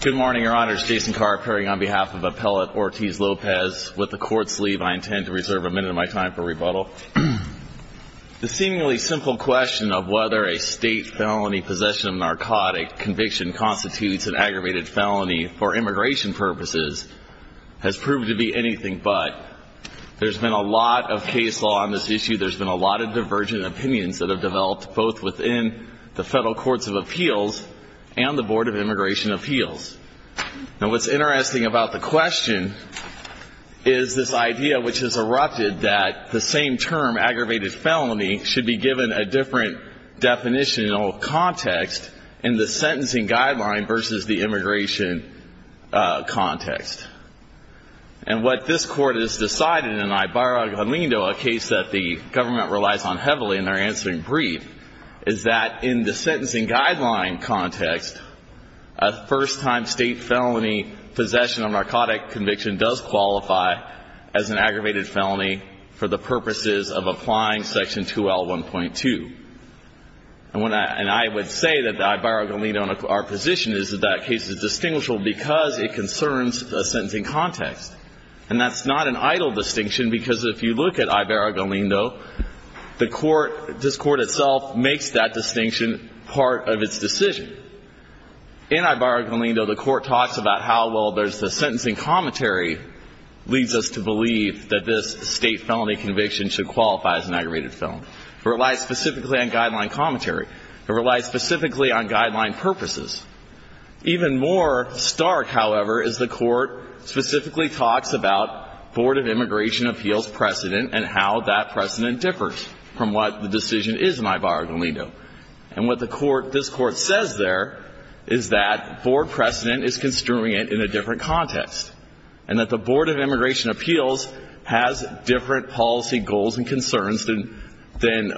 Good morning, Your Honors. Jason Carr appearing on behalf of Appellate Ortiz-Lopez. With the Court's leave, I intend to reserve a minute of my time for rebuttal. The seemingly simple question of whether a state felony possession of narcotic conviction constitutes an aggravated felony for immigration purposes has proved to be anything but. There's been a lot of case law on this issue. There's been a lot of divergent opinions that have developed both within the Federal Courts of Appeals and the Board of Immigration Appeals. And what's interesting about the question is this idea which has erupted that the same term, aggravated felony, should be given a different definitional context in the sentencing guideline versus the immigration context. And what this Court has decided, in an I barrago lindo, a case that the government relies on heavily in their answering brief, is that in the sentencing guideline context, a first-time state felony possession of narcotic conviction does qualify as an aggravated felony for the purposes of applying Section 2L1.2. And when I – and I would say that the I barrago lindo in our position is that that case is distinguishable because it concerns a sentencing context. And that's not an idle distinction, because if you look at I barrago lindo, the Court – this Court itself makes that distinction part of its decision. In I barrago lindo, the Court talks about how, well, there's the sentencing commentary leads us to believe that this state felony conviction should qualify as an aggravated felony. It relies specifically on guideline commentary. It relies specifically on guideline purposes. Even more stark, however, is the Court specifically talks about Board of Immigration Appeals precedent and how that precedent differs from what the decision is in I barrago lindo. And what the Court – this Court says there is that Board precedent is construing it in a different context, and that the Board of Immigration Appeals has different policy goals and concerns than – than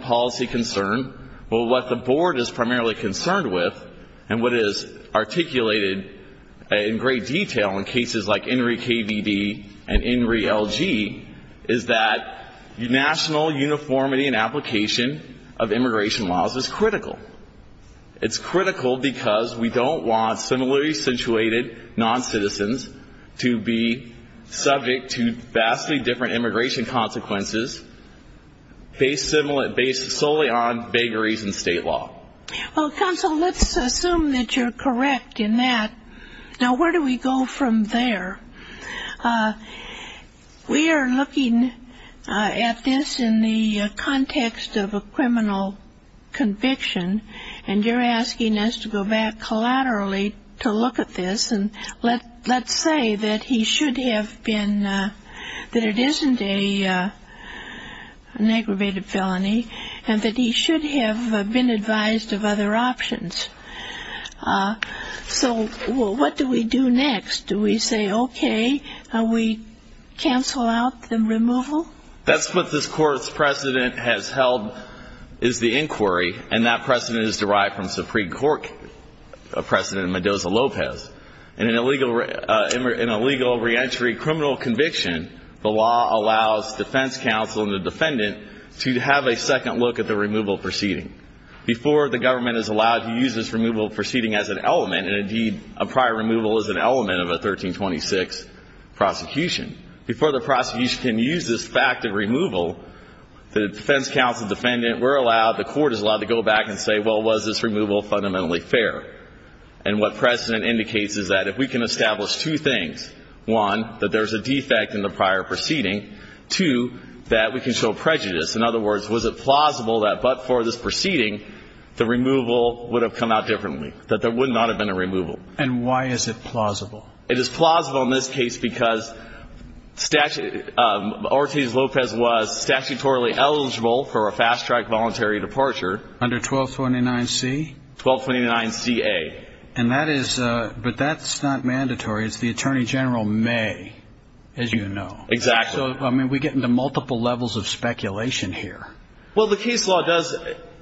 policy concern. Well, what the Board is primarily concerned with, and what is articulated in great detail in cases like INRI-KVD and INRI-LG, is that national uniformity and application of immigration laws is critical. It's critical because we don't want similarly situated noncitizens to be subject to vastly different immigration consequences based solely on vagaries in state law. Well, counsel, let's assume that you're correct in that. Now, where do we go from there? We are looking at this in the context of a criminal conviction, and you're asking us to go back collaterally to look at this, and let's say that he should have been – that it isn't an aggravated felony, and that he should have been advised of other options. So what do we do next? Do we say, okay, we cancel out the removal? That's what this Court's precedent has held is the inquiry, and that precedent is that in a legal reentry criminal conviction, the law allows defense counsel and the defendant to have a second look at the removal proceeding. Before the government is allowed to use this removal proceeding as an element, and indeed, a prior removal is an element of a 1326 prosecution, before the prosecution can use this fact of removal, the defense counsel, defendant, we're allowed, the Court is allowed to go back and look at this and say, is this removal fundamentally fair? And what precedent indicates is that if we can establish two things, one, that there's a defect in the prior proceeding, two, that we can show prejudice. In other words, was it plausible that but for this proceeding, the removal would have come out differently, that there would not have been a removal? And why is it plausible? It is plausible in this case because Ortiz-Lopez was statutorily eligible for a fast-track voluntary departure. Under 1229C? 1229CA. And that is, but that's not mandatory. It's the Attorney General may, as you know. Exactly. So, I mean, we get into multiple levels of speculation here. Well, the case law does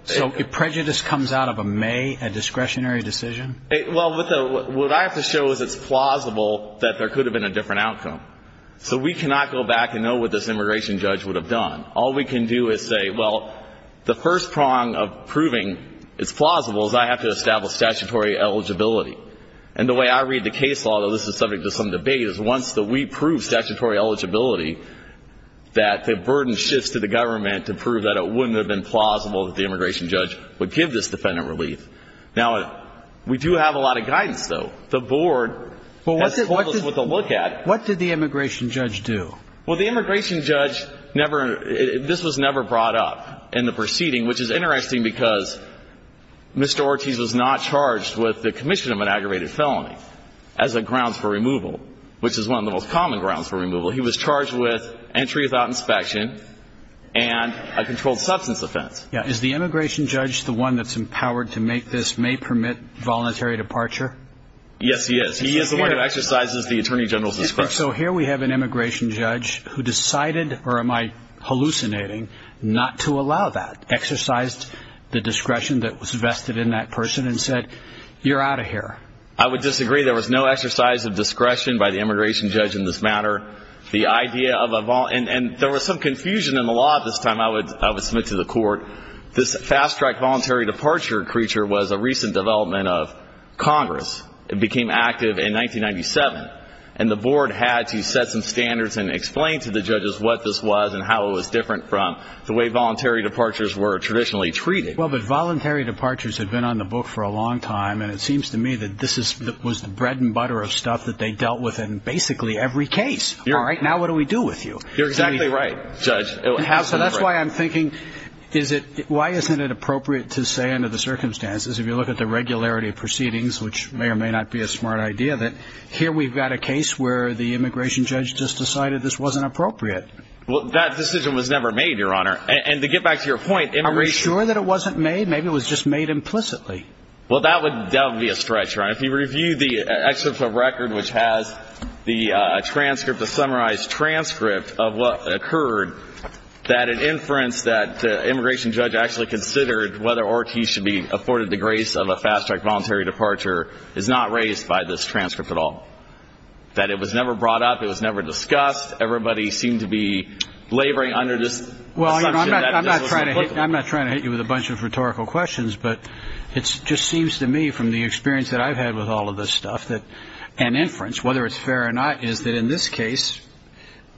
So if prejudice comes out of a may, a discretionary decision? Well, what I have to show is it's plausible that there could have been a different outcome. So we cannot go back and know what this immigration judge would have done. All we can do is say, well, the first prong of proving it's plausible is I have to establish statutory eligibility. And the way I read the case law, though this is subject to some debate, is once we prove statutory eligibility, that the burden shifts to the immigration judge. Now, we do have a lot of guidance, though. The board has told us what to look at. Well, what did the immigration judge do? Well, the immigration judge never, this was never brought up in the proceeding, which is interesting because Mr. Ortiz was not charged with the commission of an aggravated felony as a grounds for removal, which is one of the most common grounds for removal. He was charged with entry without inspection and a controlled substance offense. Is the immigration judge the one that's empowered to make this may permit voluntary departure? Yes, he is. He is the one who exercises the attorney general's discretion. So here we have an immigration judge who decided, or am I hallucinating, not to allow that, exercised the discretion that was vested in that person and said, you're out of here. I would disagree. There was no exercise of discretion by the immigration judge in this matter. The idea of a, and there was some confusion in the law at this time. I would submit to the court, this fast track voluntary departure creature was a recent development of Congress. It became active in 1997, and the board had to set some standards and explain to the judges what this was and how it was different from the way voluntary departures were traditionally treated. Well, but voluntary departures had been on the book for a long time, and it seems to me that this was the bread and butter of stuff that they dealt with in basically every case. All right, now what do we do with you? You're exactly right, Judge. So that's why I'm thinking, is it, why isn't it appropriate to say under the circumstances, if you look at the regularity of proceedings, which may or may not be a smart idea, that here we've got a case where the immigration judge just decided this wasn't appropriate. Well, that decision was never made, Your Honor. And to get back to your point, immigration... Are we sure that it wasn't made? Maybe it was just made implicitly. Well, that would be a stretch, Your Honor. If you review the excerpt from the record, which has the transcript, the summarized transcript of what occurred, that an inference that the immigration judge actually considered whether Ortiz should be afforded the grace of a fast-track voluntary departure is not raised by this transcript at all, that it was never brought up, it was never discussed, everybody seemed to be laboring under this assumption that this was implicable. Well, I'm not trying to hit you with a bunch of rhetorical questions, but it whether it's fair or not is that in this case,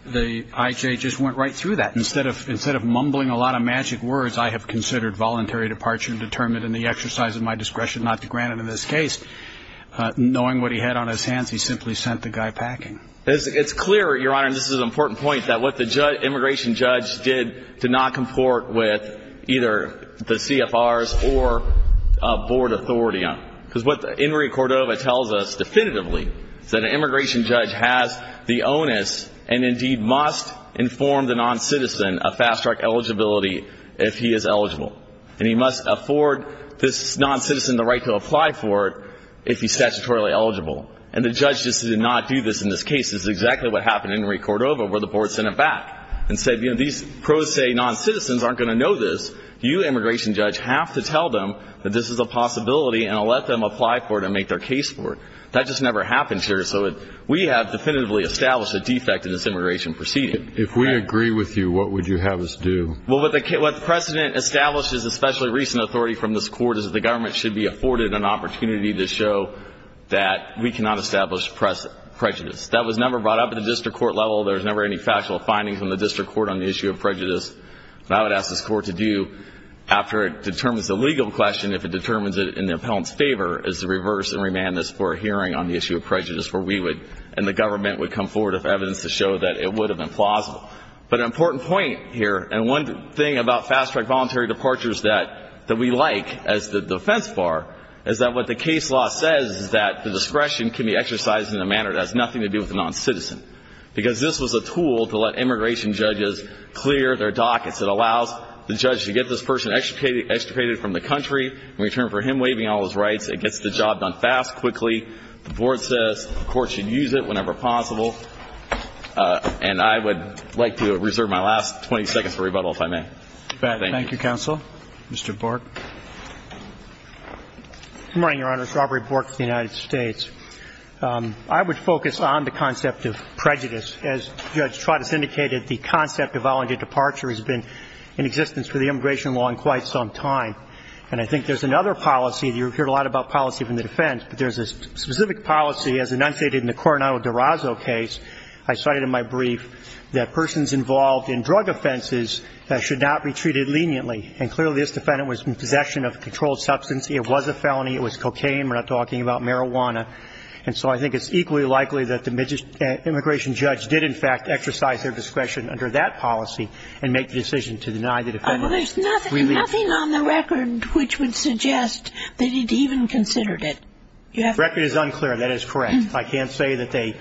the IJ just went right through that. Instead of mumbling a lot of magic words, I have considered voluntary departure determined in the exercise of my discretion not to grant it in this case. Knowing what he had on his hands, he simply sent the guy packing. It's clear, Your Honor, and this is an important point, that what the immigration judge did did not comport with either the CFRs or board authority. Because what immigration judge has the onus and, indeed, must inform the non-citizen of fast-track eligibility if he is eligible. And he must afford this non-citizen the right to apply for it if he's statutorily eligible. And the judge just did not do this in this case. This is exactly what happened in Henry Cordova where the board sent him back and said, you know, these pro se non-citizens aren't going to know this. You, immigration judge, have to tell them that this is a possibility and let them apply for it and make their case for it. That just never happens here. So we have definitively established a defect in this immigration proceeding. If we agree with you, what would you have us do? Well, what the precedent establishes, especially recent authority from this court, is that the government should be afforded an opportunity to show that we cannot establish prejudice. That was never brought up at the district court level. There was never any factual findings from the district court on the issue of prejudice. And I would ask this court to do, after it determines the legal question, if it determines it in the appellant's favor, is to reverse and ask for a hearing on the issue of prejudice where we would and the government would come forward with evidence to show that it would have been plausible. But an important point here, and one thing about fast-track voluntary departures that we like as the defense bar, is that what the case law says is that the discretion can be exercised in a manner that has nothing to do with a non-citizen. Because this was a tool to let immigration judges clear their dockets. It allows the judge to get this person extricated from the country in return for him waiving all his rights. It gets the job done fast, quickly, the board says the court should use it whenever possible. And I would like to reserve my last 20 seconds for rebuttal, if I may. Thank you. Thank you, counsel. Mr. Bork. Good morning, Your Honors. Robert Bork of the United States. I would focus on the concept of prejudice. As Judge Trotis indicated, the concept of voluntary departure has been in existence for the immigration law in quite some time. And I think there's another policy, you've heard a lot about policy from the defense, but there's a specific policy as enunciated in the Coronado-Dorazzo case, I cited in my brief, that persons involved in drug offenses should not be treated leniently. And clearly this defendant was in possession of a controlled substance. It was a felony. It was cocaine. We're not talking about marijuana. And so I think it's equally likely that the immigration judge did, in fact, exercise their discretion under that policy and make the decision to deny the defendant a free leave. Well, there's nothing on the record which would suggest that he even considered it. The record is unclear. That is correct. I can't say that they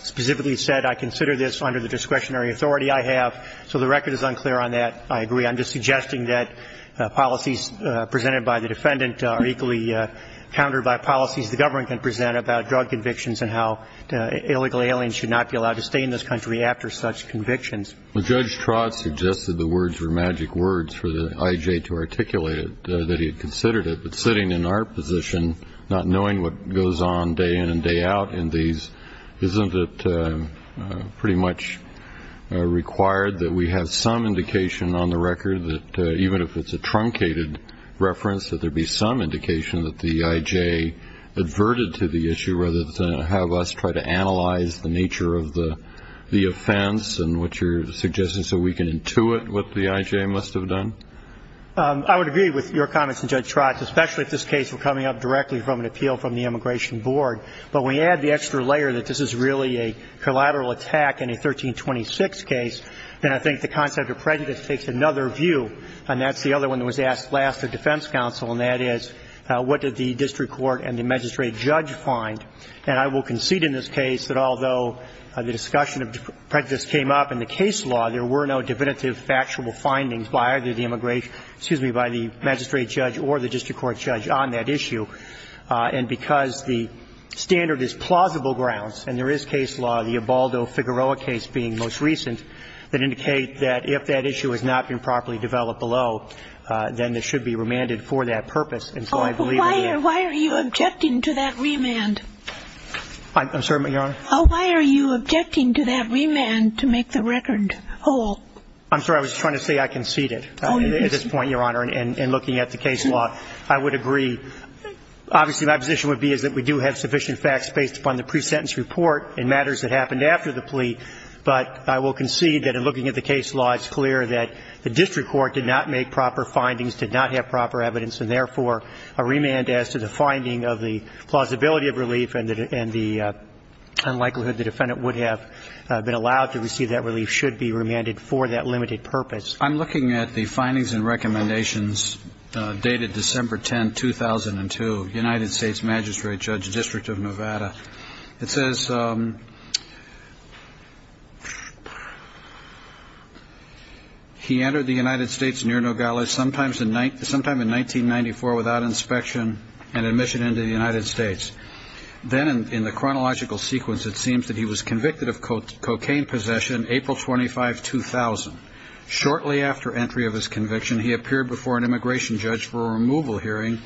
specifically said, I consider this under the discretionary authority I have. So the record is unclear on that. I agree. I'm just suggesting that policies presented by the defendant are equally countered by policies the government can present about drug convictions and how illegal aliens should not be allowed to stay in this country after such convictions. Well, Judge Trott suggested the words were magic words for the I.J. to articulate it, that he had considered it. But sitting in our position, not knowing what goes on day in and day out in these, isn't it pretty much required that we have some indication on the record that even if it's a truncated reference, that there be some indication that the I.J. adverted to the issue rather than have us try to analyze the nature of the offense and what you're suggesting so we can intuit what the I.J. must have done? I would agree with your comments, Judge Trott, especially if this case were coming up directly from an appeal from the Immigration Board. But when you add the extra layer that this is really a collateral attack in a 1326 case, then I think the concept of prejudice takes another view, and that's the other one that was asked last at defense counsel, and that is, what did the district court and the Immigration Board do? And I will concede in this case that although the discussion of prejudice came up in the case law, there were no definitive factual findings by either the Immigration Board, excuse me, by the magistrate judge or the district court judge on that issue. And because the standard is plausible grounds, and there is case law, the Ebaldo Figueroa case being most recent, that indicate that if that issue has not been properly developed below, then it should be remanded for that purpose. And so I believe that the case law is clear, and I think that the case law is clear. I'm sorry, Your Honor. Why are you objecting to that remand to make the record whole? I'm sorry. I was trying to say I conceded at this point, Your Honor, in looking at the case law. I would agree. Obviously, my position would be is that we do have sufficient facts based upon the pre-sentence report and matters that happened after the plea, but I will concede that in looking at the case law, it's clear that the district court did not make proper findings, did not have proper evidence, and therefore, a remand as to the finding of the plausibility of relief and the unlikelihood the defendant would have been allowed to receive that relief should be remanded for that limited purpose. I'm looking at the findings and recommendations dated December 10, 2002, United States Magistrate Judge, District of Nevada. It says he entered the United States near Nogales sometime in 1994 without inspection and admission into the United States. Then in the chronological sequence, it seems that he was convicted of cocaine possession April 25, 2000. Shortly after entry of his conviction, he appeared before an immigration judge for a removal hearing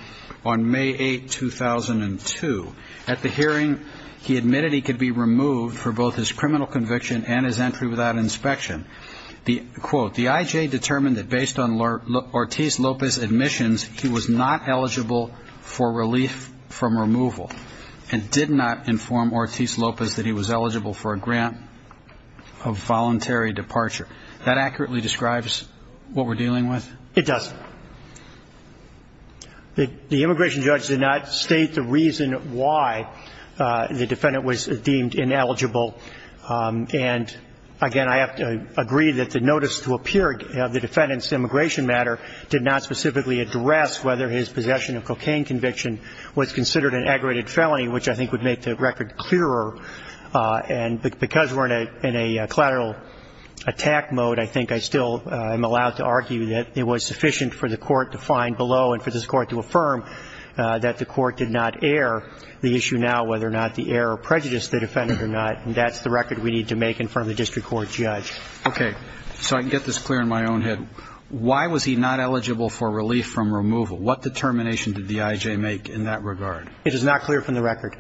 on May 8, 2002. At the hearing, he admitted he could be removed for both his criminal conviction and his entry without inspection. Quote, the IJ determined that based on Ortiz-Lopez admissions, he was not eligible for relief from removal and did not inform Ortiz-Lopez that he was eligible for a grant of voluntary departure. That accurately describes what we're dealing with? It doesn't. The immigration judge did not state the reason why the defendant was deemed ineligible. And, again, I have to agree that the notice to appear of the defendant's immigration matter did not specifically address whether his possession of cocaine conviction was considered an aggravated felony, which I think would make the record clearer. And because we're in a collateral attack mode, I think I still am allowed to argue that it was sufficient for the court to find below and for this court to affirm that the court did not air the issue now, whether or not the air or prejudice the defendant or not, and that's the record we need to make in front of the district court judge. Okay. So I can get this clear in my own head. Why was he not eligible for relief from removal? What determination did the IJ make in that regard? It is not clear from the record.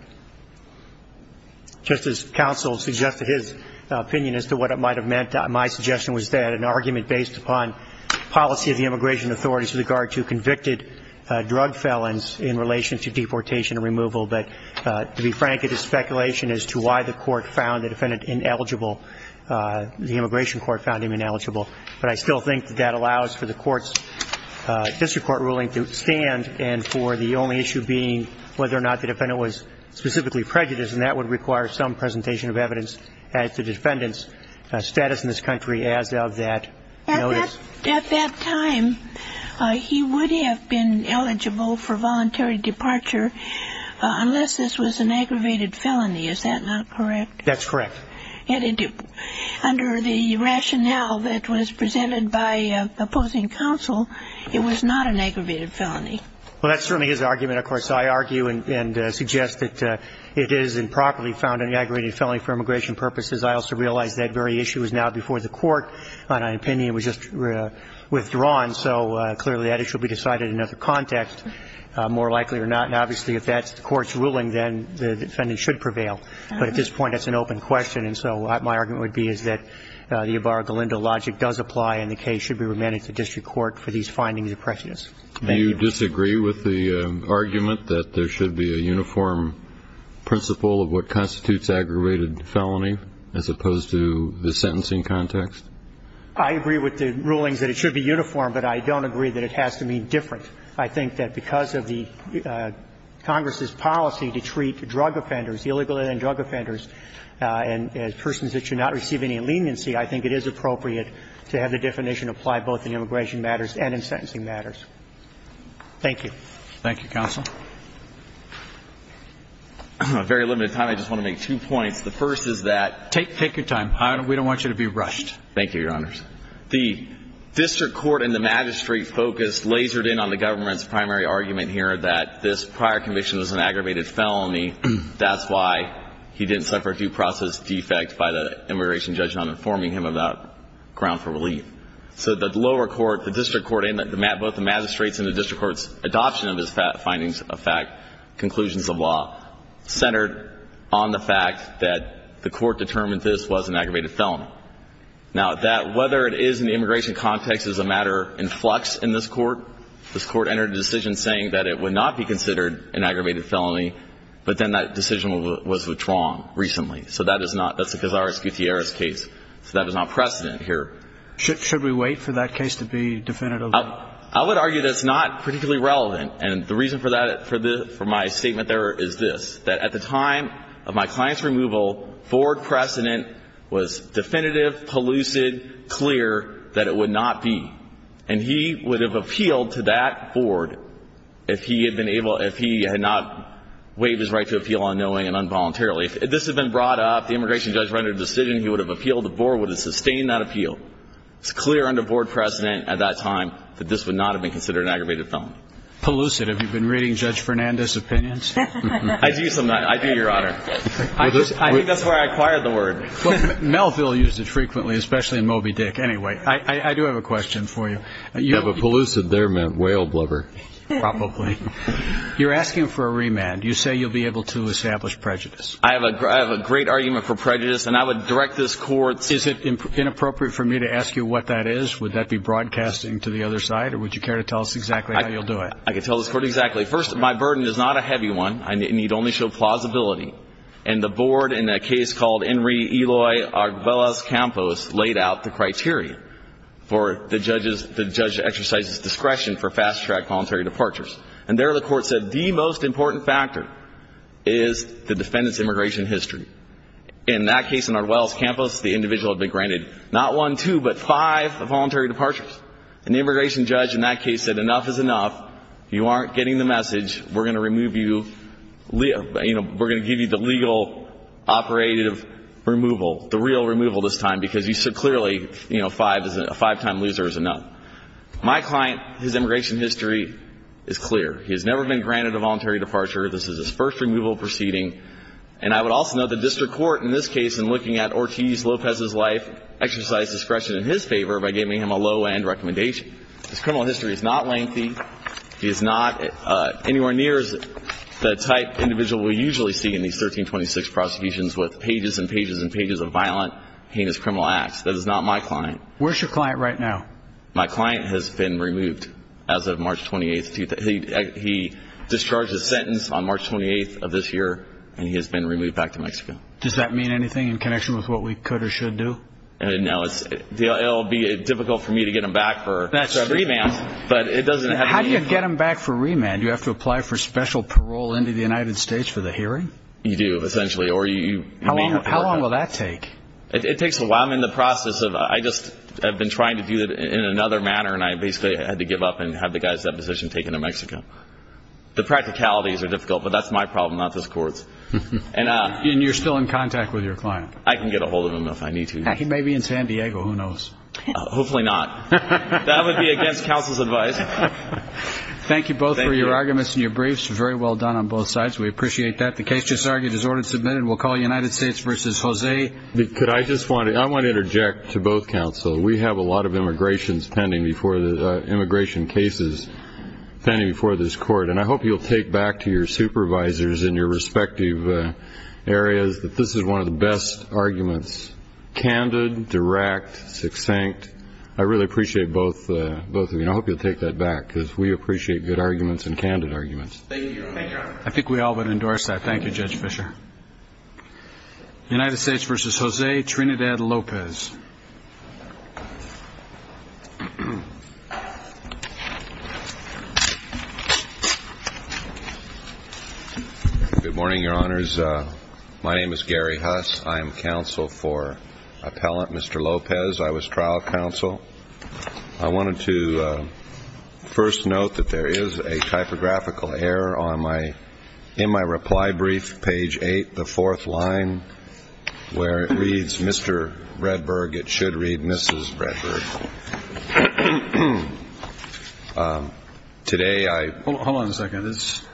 Just as counsel suggested his opinion as to what might have meant, my suggestion was that an argument based upon policy of the immigration authorities with regard to convicted drug felons in relation to deportation and removal, but to be frank, it is speculation as to why the court found the defendant ineligible, the immigration court found him ineligible. But I still think that that allows for the court's district court ruling to stand and for the only issue being whether or not the defendant was specifically prejudiced, and that would require some presentation of evidence as to the defendant's status in this country as of that notice. At that time, he would have been eligible for voluntary departure unless this was an aggravated felony. Is that not correct? That's correct. Under the rationale that was presented by opposing counsel, it was not an aggravated felony. Well, that's certainly his argument. Of course, I argue and suggest that it is improperly found an aggravated felony for immigration purposes. I also realize that very issue is now before the court. My opinion was just withdrawn. So clearly, that issue will be decided in another context, more likely or not. And obviously, if that's the court's ruling, then the defendant should prevail. But at this point, that's an open question. And so my argument would be is that the Ibarra-Galindo logic does apply and the case should be remanded to district court for these findings of prejudice. Thank you. Do you disagree with the argument that there should be a uniform principle of what constitutes aggravated felony as opposed to the sentencing context? I agree with the rulings that it should be uniform, but I don't agree that it has to be different. I think that because of the Congress's policy to treat drug offenders, illegal and drug offenders, and persons that should not receive any leniency, I think it is Thank you. Thank you, counsel. Very limited time. I just want to make two points. The first is that Take your time. We don't want you to be rushed. Thank you, Your Honors. The district court and the magistrate focused, lasered in on the government's primary argument here that this prior conviction was an aggravated felony. That's why he didn't suffer a due process defect by the immigration judge not informing him about ground for relief. So the lower court, the district court, both the magistrates and the district court's adoption of his findings of fact, conclusions of law, centered on the fact that the court determined this was an aggravated felony. Now, whether it is in the immigration context is a matter in flux in this court. This court entered a decision saying that it would not be considered an aggravated felony, but then that decision was withdrawn recently. So that is not, that's a Cazares-Gutierrez case. So that was not precedent here. Should we wait for that case to be definitive? I would argue that's not particularly relevant. And the reason for that, for my statement there is this, that at the time of my client's removal, forward precedent was definitive, pellucid, clear that it would not be. And he would have appealed to that board if he had been able, if he had not waived his right to appeal unknowingly and involuntarily. If this had been brought up, the immigration judge rendered a decision, he would have appealed, the board would have sustained that appeal. It's clear under forward precedent at that time that this would not have been considered an aggravated felony. Pellucid. Have you been reading Judge Fernandez's opinions? I do sometimes. I do, Your Honor. I think that's where I acquired the word. Melville used it frequently, especially in Moby Dick. Anyway, I do have a question for you. Yeah, but pellucid there meant whale blubber. Probably. You're asking for a remand. You say you'll be able to establish prejudice. I have a great argument for prejudice, and I would direct this Court. Is it inappropriate for me to ask you what that is? Would that be broadcasting to the other side, or would you care to tell us exactly how you'll do it? I can tell this Court exactly. First, my burden is not a heavy one. It need only show plausibility. And the board, in a case called Henry Eloy Agbelas Campos, laid out the criteria for the judge's, the judge's exercise discretion for fast-track voluntary departures. And there the Court said the most important factor is the defendant's immigration history. In that case, in Agbelas Campos, the individual had been granted not one, two, but five voluntary departures. And the immigration judge in that case said enough is enough. You aren't getting the message. We're going to remove you. We're going to give you the legal operative removal, the real removal this time, because you so clearly, you know, a five-time loser is enough. My client, his immigration history is clear. He has never been granted a voluntary departure. This is his first removal proceeding. And I would also note the district court in this case, in looking at Ortiz Lopez's life, exercised discretion in his favor by giving him a low-end recommendation. His criminal history is not lengthy. He is not anywhere near the type individual we usually see in these 1326 prosecutions with pages and pages and pages of violent, heinous criminal acts. That is not my client. Where is your client right now? My client has been removed as of March 28th. He discharged his sentence on March 28th of this year, and he has been removed back to Mexico. Does that mean anything in connection with what we could or should do? No. It will be difficult for me to get him back for remand, but it doesn't have to be. How do you get him back for remand? Do you have to apply for special parole into the United States for the hearing? You do, essentially. How long will that take? It takes a while. I'm in the process of it. I just have been trying to do it in another manner, and I basically had to give up and have the guy's deposition taken in Mexico. The practicalities are difficult, but that's my problem, not this court's. And you're still in contact with your client? I can get a hold of him if I need to. He may be in San Diego. Who knows? Hopefully not. That would be against counsel's advice. Thank you both for your arguments and your briefs. Very well done on both sides. We appreciate that. The case just argued is order submitted. We'll call United States v. Jose. I want to interject to both counsel. We have a lot of immigration cases pending before this court, and I hope you'll take back to your supervisors in your respective areas that this is one of the best arguments, candid, direct, succinct. I really appreciate both of you, and I hope you'll take that back, because we appreciate good arguments and candid arguments. Thank you. I think we all would endorse that. Thank you, Judge Fischer. United States v. Jose Trinidad-Lopez. Good morning, Your Honors. My name is Gary Huss. I am counsel for appellant Mr. Lopez. I was trial counsel. I wanted to first note that there is a typographical error in my reply brief, page 8, the fourth line, where it reads, Mr. Redberg. It should read Mrs. Redberg. Today I. Hold on a second.